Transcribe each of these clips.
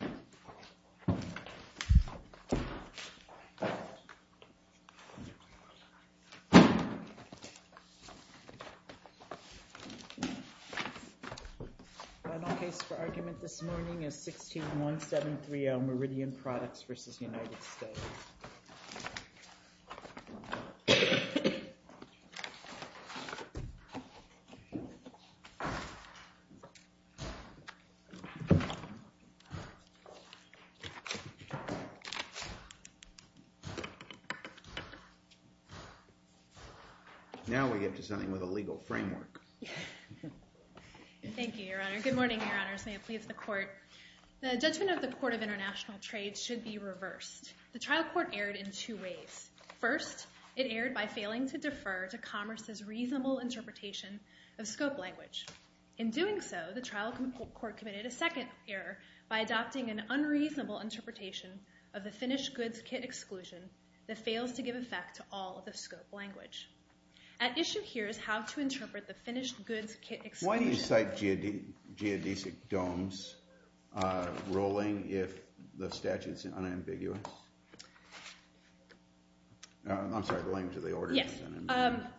The final case for argument this morning is 161730 Meridian Products v. United States. Now we get to something with a legal framework. Thank you, Your Honor. Good morning, Your Honors. May it please the Court. The judgment of the Court of International Trade should be reversed. The trial court erred in two ways. First, it erred by failing to defer to Commerce's reasonable interpretation of scope language. In doing so, the trial court committed a second error by adopting an unreasonable interpretation of the finished goods kit exclusion that fails to give effect to all of the scope language. At issue here is how to interpret the finished goods kit exclusion. Why do you cite geodesic domes rolling if the statute is unambiguous? I'm sorry, the language of the order is unambiguous. Yes.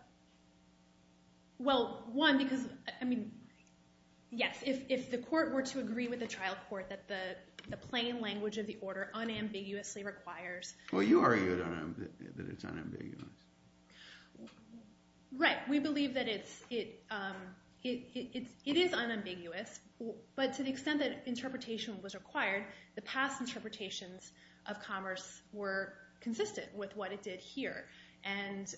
Well, one, because, I mean, yes, if the court were to agree with the trial court that the plain language of the order unambiguously requires Well, you argued that it's unambiguous. Right. We believe that it is unambiguous, but to the extent that interpretation was required, the past interpretations of Commerce were consistent with what it did here. And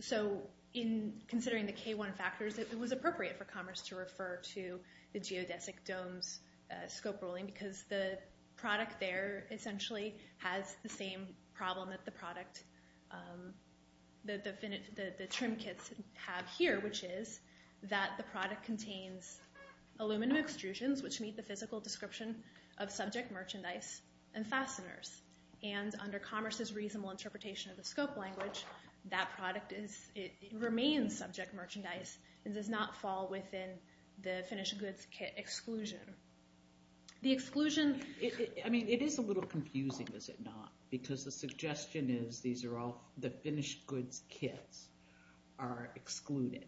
so in considering the K-1 factors, it was appropriate for Commerce to refer to the geodesic domes scope rolling, because the product there essentially has the same problem that the product, the trim kits have here, which is that the product contains aluminum extrusions which meet the physical description of subject merchandise and fasteners. And under Commerce's reasonable interpretation of the scope language, that product remains subject merchandise and does not fall within the finished goods kit exclusion. The exclusion, I mean, it is a little confusing, is it not? Because the suggestion is these are all, the finished goods kits are excluded.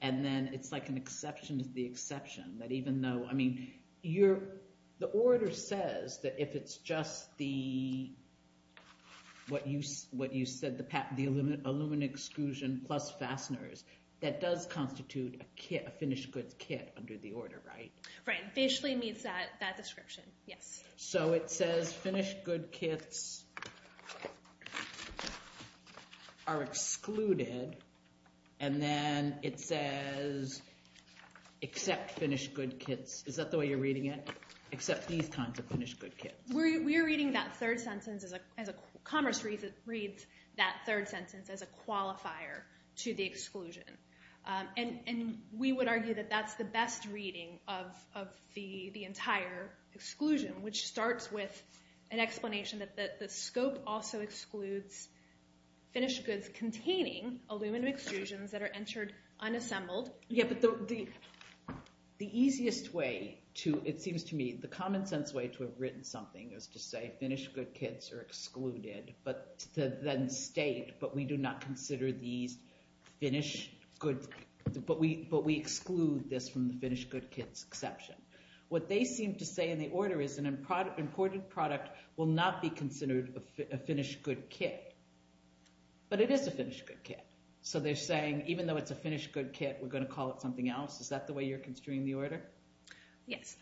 And then it's like an exception to the exception, that even though, I mean, the order says that if it's just the, what you said, the aluminum exclusion plus fasteners, that does constitute a finished goods kit under the order, right? Right, basically meets that description, yes. So it says finished goods kits are excluded, and then it says except finished goods kits. Is that the way you're reading it? Except these kinds of finished goods kits. We're reading that third sentence as a, Commerce reads that third sentence as a qualifier to the exclusion. And we would argue that that's the best reading of the entire exclusion, which starts with an explanation that the scope also excludes finished goods containing aluminum extrusions that are entered unassembled. Yeah, but the easiest way to, it seems to me, the common sense way to have written something is to say finished goods kits are excluded, but then state, but we do not consider these finished goods, but we exclude this from the finished goods kits exception. What they seem to say in the order is an imported product will not be considered a finished goods kit. But it is a finished goods kit. So they're saying even though it's a finished goods kit, we're going to call it something else? Is that the way you're construing the order? Yes,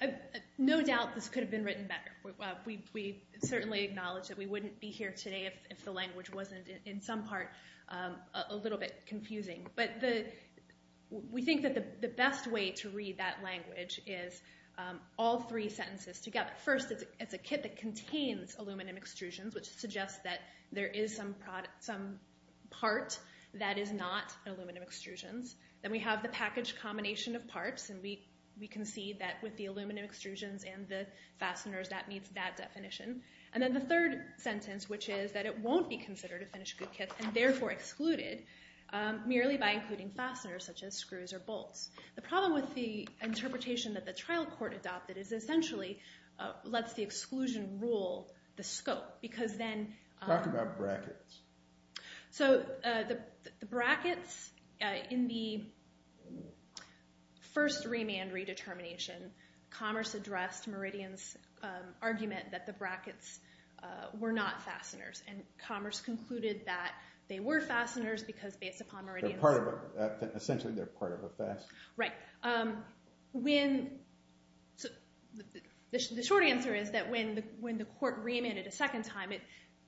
no doubt this could have been written better. We certainly acknowledge that we wouldn't be here today if the language wasn't in some part a little bit confusing. But we think that the best way to read that language is all three sentences together. First, it's a kit that contains aluminum extrusions, which suggests that there is some part that is not aluminum extrusions. Then we have the package combination of parts, and we can see that with the aluminum extrusions and the fasteners, that meets that definition. And then the third sentence, which is that it won't be considered a finished goods kit, and therefore excluded, merely by including fasteners such as screws or bolts. The problem with the interpretation that the trial court adopted is essentially lets the exclusion rule the scope. Talk about brackets. So the brackets in the first remand redetermination, Commerce addressed Meridian's argument that the brackets were not fasteners, and Commerce concluded that they were fasteners because based upon Meridian's— Essentially they're part of a fastener. The short answer is that when the court remanded a second time, it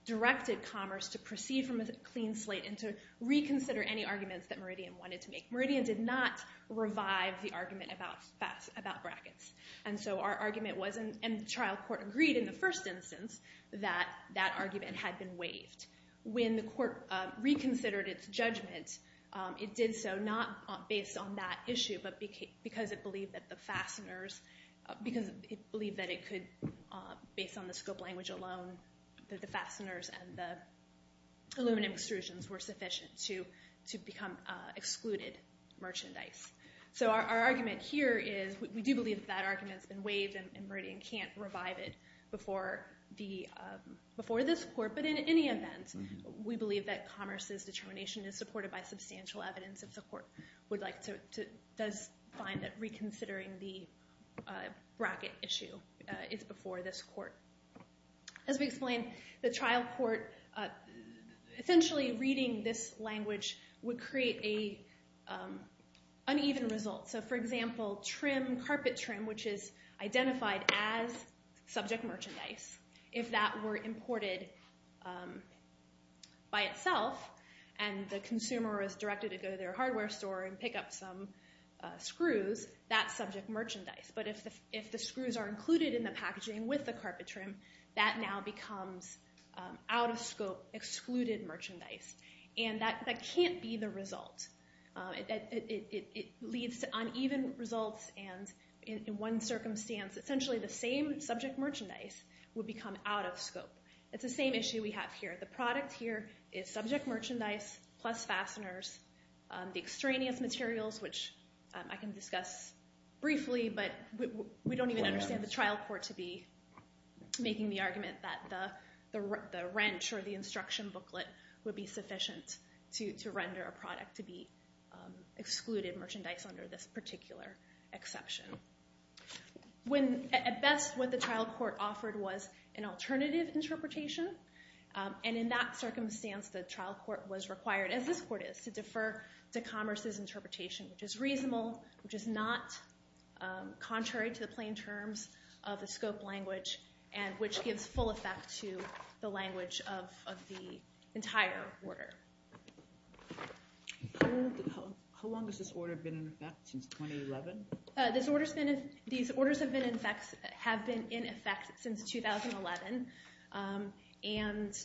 directed Commerce to proceed from a clean slate and to reconsider any arguments that Meridian wanted to make. Meridian did not revive the argument about brackets, and so our argument wasn't— And the trial court agreed in the first instance that that argument had been waived. When the court reconsidered its judgment, it did so not based on that issue, but because it believed that the fasteners— Because it believed that it could, based on the scope language alone, that the fasteners and the aluminum extrusions were sufficient to become excluded merchandise. So our argument here is we do believe that that argument has been waived, and Meridian can't revive it before this court. But in any event, we believe that Commerce's determination is supported by substantial evidence if the court would like to— does find that reconsidering the bracket issue is before this court. As we explained, the trial court essentially reading this language would create an uneven result. So for example, trim, carpet trim, which is identified as subject merchandise, if that were imported by itself and the consumer was directed to go to their hardware store and pick up some screws, that's subject merchandise. But if the screws are included in the packaging with the carpet trim, that now becomes out of scope, excluded merchandise. And that can't be the result. It leads to uneven results, and in one circumstance, essentially the same subject merchandise would become out of scope. It's the same issue we have here. The product here is subject merchandise plus fasteners. The extraneous materials, which I can discuss briefly, but we don't even understand the trial court to be making the argument that the wrench or the instruction booklet would be sufficient to render a product to be excluded merchandise under this particular exception. At best, what the trial court offered was an alternative interpretation. And in that circumstance, the trial court was required, as this court is, to defer to Commerce's interpretation, which is reasonable, which is not contrary to the plain terms of the scope language, and which gives full effect to the language of the entire order. How long has this order been in effect? Since 2011? These orders have been in effect since 2011. And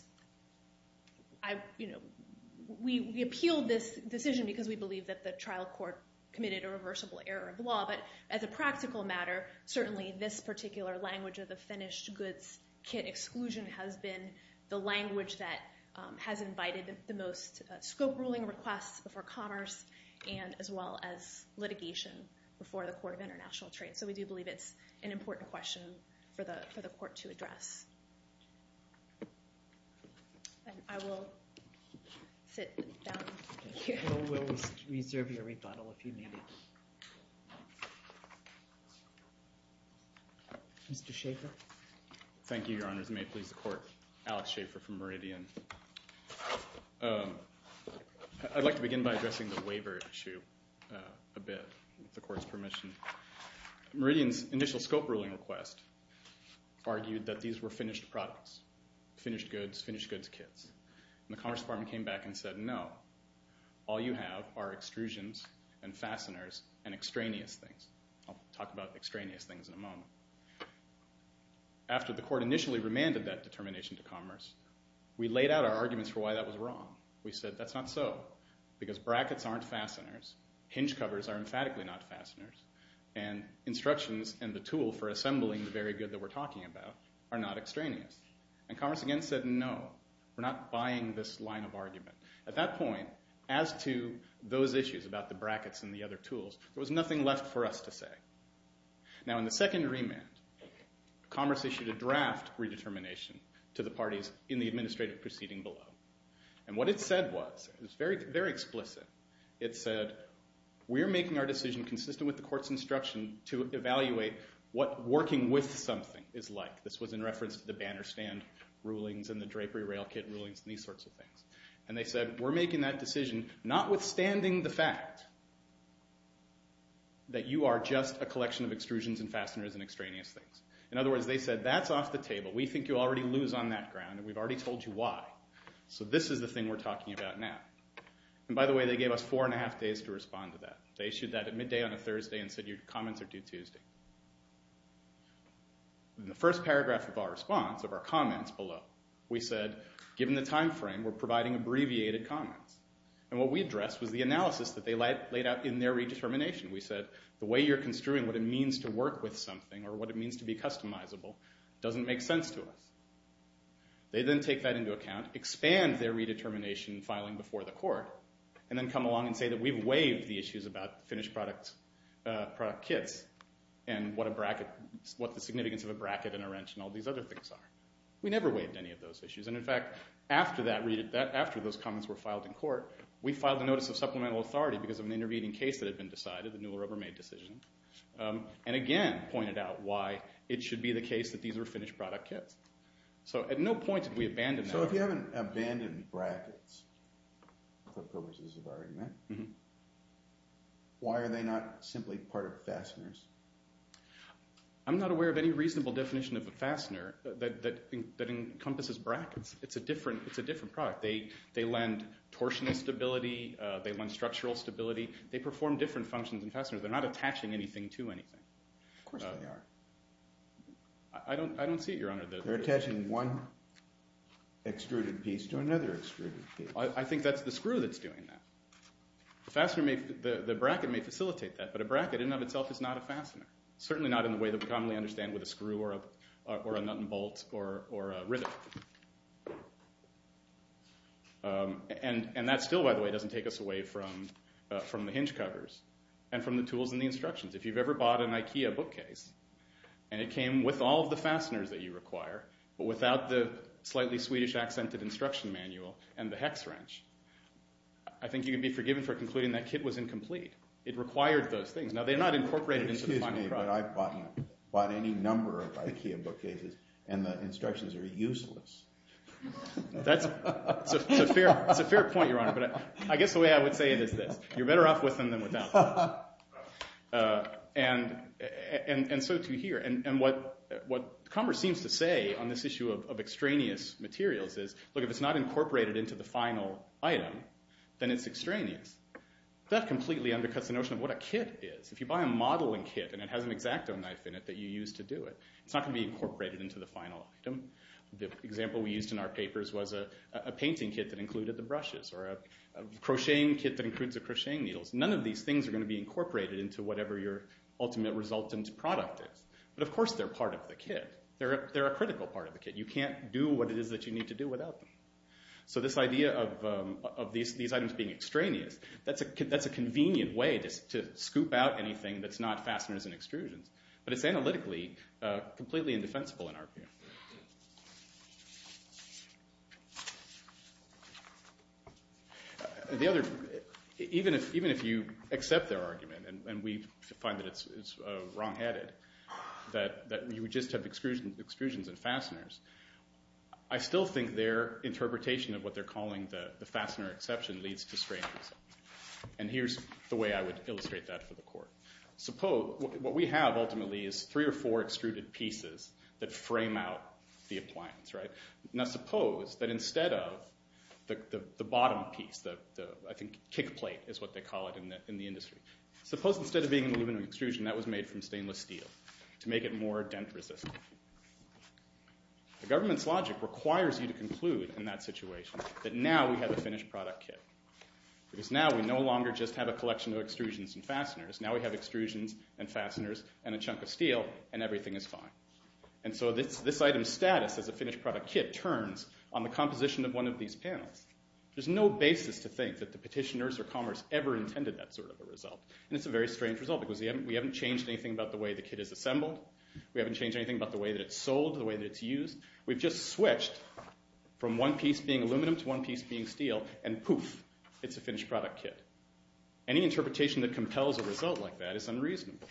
we appealed this decision because we believe that the trial court committed a reversible error of law. But as a practical matter, certainly this particular language of the finished goods kit exclusion has been the language that has invited the most scope ruling requests before Commerce, and as well as litigation before the Court of International Trade. So we do believe it's an important question for the court to address. And I will sit down here. We'll reserve your rebuttal if you need it. Mr. Schaffer? Thank you, Your Honors. May it please the Court. Alex Schaffer from Meridian. I'd like to begin by addressing the waiver issue a bit, with the Court's permission. Meridian's initial scope ruling request argued that these were finished products, finished goods, finished goods kits. And the Commerce Department came back and said, no, all you have are extrusions and fasteners and extraneous things. I'll talk about extraneous things in a moment. After the court initially remanded that determination to Commerce, we laid out our arguments for why that was wrong. We said that's not so, because brackets aren't fasteners, hinge covers are emphatically not fasteners, and instructions and the tool for assembling the very good that we're talking about are not extraneous. And Commerce again said, no, we're not buying this line of argument. At that point, as to those issues about the brackets and the other tools, there was nothing left for us to say. Now, in the second remand, Commerce issued a draft redetermination to the parties in the administrative proceeding below. And what it said was, it was very explicit. It said, we're making our decision consistent with the court's instruction to evaluate what working with something is like. This was in reference to the banner stand rulings and the drapery rail kit rulings and these sorts of things. And they said, we're making that decision notwithstanding the fact that you are just a collection of extrusions and fasteners and extraneous things. In other words, they said, that's off the table. We think you already lose on that ground, and we've already told you why. So this is the thing we're talking about now. And by the way, they gave us four and a half days to respond to that. They issued that at midday on a Thursday and said, your comments are due Tuesday. In the first paragraph of our response, of our comments below, we said, given the time frame, we're providing abbreviated comments. And what we addressed was the analysis that they laid out in their redetermination. We said, the way you're construing what it means to work with something or what it means to be customizable doesn't make sense to us. They then take that into account, expand their redetermination filing before the court, and then come along and say that we've waived the issues about finished product kits. And what the significance of a bracket and a wrench and all these other things are. We never waived any of those issues. And in fact, after those comments were filed in court, we filed a notice of supplemental authority because of an intervening case that had been decided, the Newell Rubbermaid decision. And again, pointed out why it should be the case that these were finished product kits. So at no point did we abandon that. The purposes of our argument. Why are they not simply part of fasteners? I'm not aware of any reasonable definition of a fastener that encompasses brackets. It's a different product. They lend torsional stability. They lend structural stability. They perform different functions than fasteners. They're not attaching anything to anything. Of course they are. I don't see it, Your Honor. They're attaching one extruded piece to another extruded piece. I think that's the screw that's doing that. The bracket may facilitate that, but a bracket in and of itself is not a fastener. Certainly not in the way that we commonly understand with a screw or a nut and bolt or a rivet. And that still, by the way, doesn't take us away from the hinge covers and from the tools and the instructions. If you've ever bought an IKEA bookcase, and it came with all of the fasteners that you require, but without the slightly Swedish-accented instruction manual and the hex wrench, I think you can be forgiven for concluding that kit was incomplete. It required those things. Now, they're not incorporated into the final product. Excuse me, but I've bought any number of IKEA bookcases, and the instructions are useless. That's a fair point, Your Honor. But I guess the way I would say it is this. You're better off with them than without them, and so too here. And what Commerce seems to say on this issue of extraneous materials is, look, if it's not incorporated into the final item, then it's extraneous. That completely undercuts the notion of what a kit is. If you buy a modeling kit and it has an X-Acto knife in it that you use to do it, it's not going to be incorporated into the final item. The example we used in our papers was a painting kit that included the brushes or a crocheting kit that includes the crocheting needles. None of these things are going to be incorporated into whatever your ultimate resultant product is. But, of course, they're part of the kit. They're a critical part of the kit. You can't do what it is that you need to do without them. So this idea of these items being extraneous, that's a convenient way to scoop out anything that's not fasteners and extrusions. But it's analytically completely indefensible in our view. Even if you accept their argument, and we find that it's wrongheaded, that you would just have extrusions and fasteners, I still think their interpretation of what they're calling the fastener exception leads to strangeness. And here's the way I would illustrate that for the Court. What we have, ultimately, is three or four extruded pieces that frame out the appliance. Now suppose that instead of the bottom piece, the kick plate is what they call it in the industry, suppose instead of being an aluminum extrusion that was made from stainless steel to make it more dent resistant. The government's logic requires you to conclude in that situation that now we have a finished product kit. Because now we no longer just have a collection of extrusions and fasteners. Now we have extrusions and fasteners and a chunk of steel and everything is fine. And so this item's status as a finished product kit turns on the composition of one of these panels. There's no basis to think that the petitioners or commerce ever intended that sort of a result. And it's a very strange result because we haven't changed anything about the way the kit is assembled. We haven't changed anything about the way that it's sold, the way that it's used. We've just switched from one piece being aluminum to one piece being steel and poof, it's a finished product kit. Any interpretation that compels a result like that is unreasonable.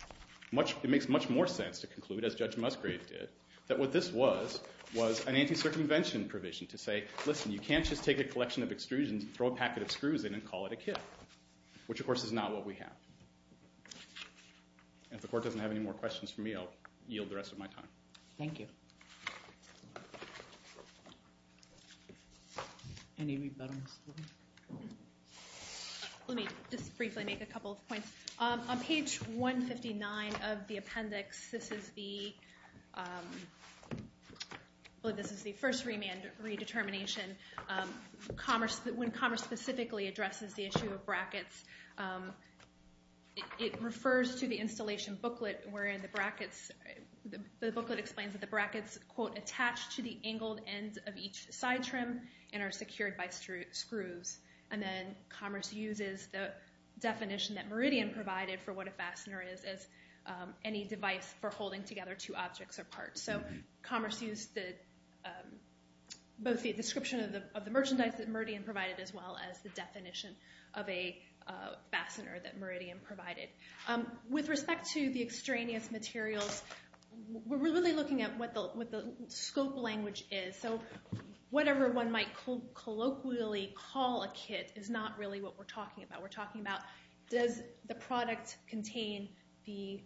It makes much more sense to conclude, as Judge Musgrave did, that what this was was an anti-circumvention provision to say, listen, you can't just take a collection of extrusions and throw a packet of screws in and call it a kit, which of course is not what we have. If the court doesn't have any more questions for me, I'll yield the rest of my time. Thank you. Any rebuttals? Let me just briefly make a couple of points. On page 159 of the appendix, this is the first remand redetermination. When commerce specifically addresses the issue of brackets, it refers to the installation booklet, where the booklet explains that the brackets, quote, attach to the angled ends of each side trim and are secured by screws. Then commerce uses the definition that Meridian provided for what a fastener is as any device for holding together two objects or parts. Commerce used both the description of the merchandise that Meridian provided as well as the definition of a fastener that Meridian provided. With respect to the extraneous materials, we're really looking at what the scope language is. Whatever one might colloquially call a kit is not really what we're talking about. We're talking about, does the product contain a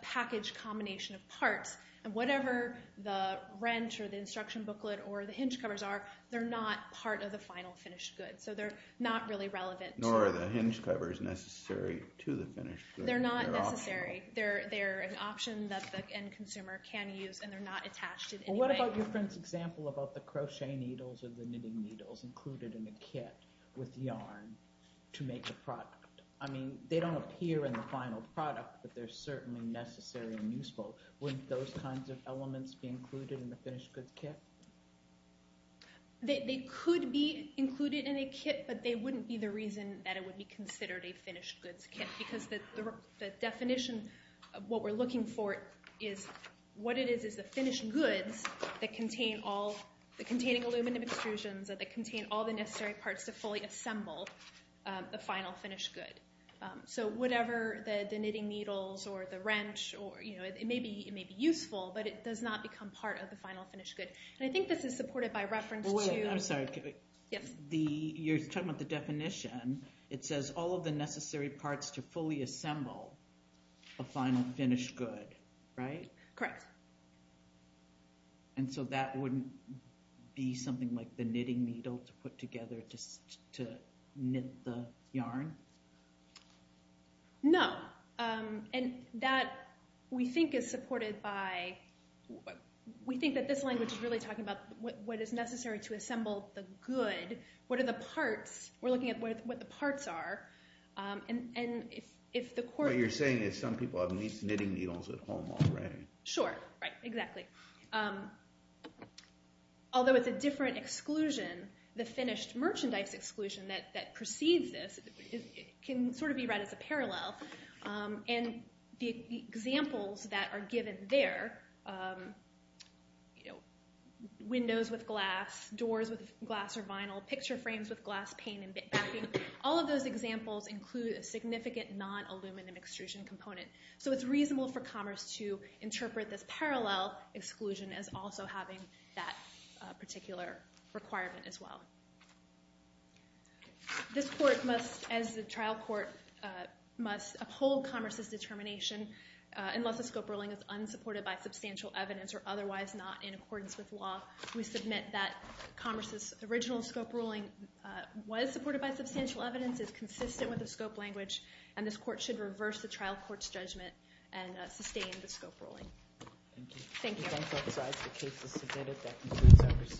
package combination of parts? Whatever the wrench or the instruction booklet or the hinge covers are, they're not part of the final finished good, so they're not really relevant. Nor are the hinge covers necessary to the finished good. They're not necessary. They're an option that the end consumer can use, and they're not attached in any way. What about your friend's example about the crochet needles or the knitting needles included in a kit with yarn to make the product? I mean, they don't appear in the final product, but they're certainly necessary and useful. Wouldn't those kinds of elements be included in the finished goods kit? They could be included in a kit, but they wouldn't be the reason that it would be considered a finished goods kit because the definition of what we're looking for is what it is is the finished goods that contain all the containing aluminum extrusions or that contain all the necessary parts to fully assemble the final finished good. So whatever the knitting needles or the wrench, it may be useful, but it does not become part of the final finished good. And I think this is supported by reference to— Wait, I'm sorry. Yes? You're talking about the definition. It says all of the necessary parts to fully assemble a final finished good, right? Correct. And so that wouldn't be something like the knitting needle to put together to knit the yarn? No, and that, we think, is supported by— we think that this language is really talking about what is necessary to assemble the good. What are the parts? We're looking at what the parts are, and if the core— What you're saying is some people have knitting needles at home already. Sure, right, exactly. Although it's a different exclusion, the finished merchandise exclusion that precedes this can sort of be read as a parallel. And the examples that are given there, windows with glass, doors with glass or vinyl, picture frames with glass pane and bit backing, all of those examples include a significant non-aluminum extrusion component. So it's reasonable for Commerce to interpret this parallel exclusion as also having that particular requirement as well. This court must, as the trial court, must uphold Commerce's determination unless the scope ruling is unsupported by substantial evidence or otherwise not in accordance with law. We submit that Commerce's original scope ruling was supported by substantial evidence, is consistent with the scope language, and this court should reverse the trial court's judgment and sustain the scope ruling. Thank you.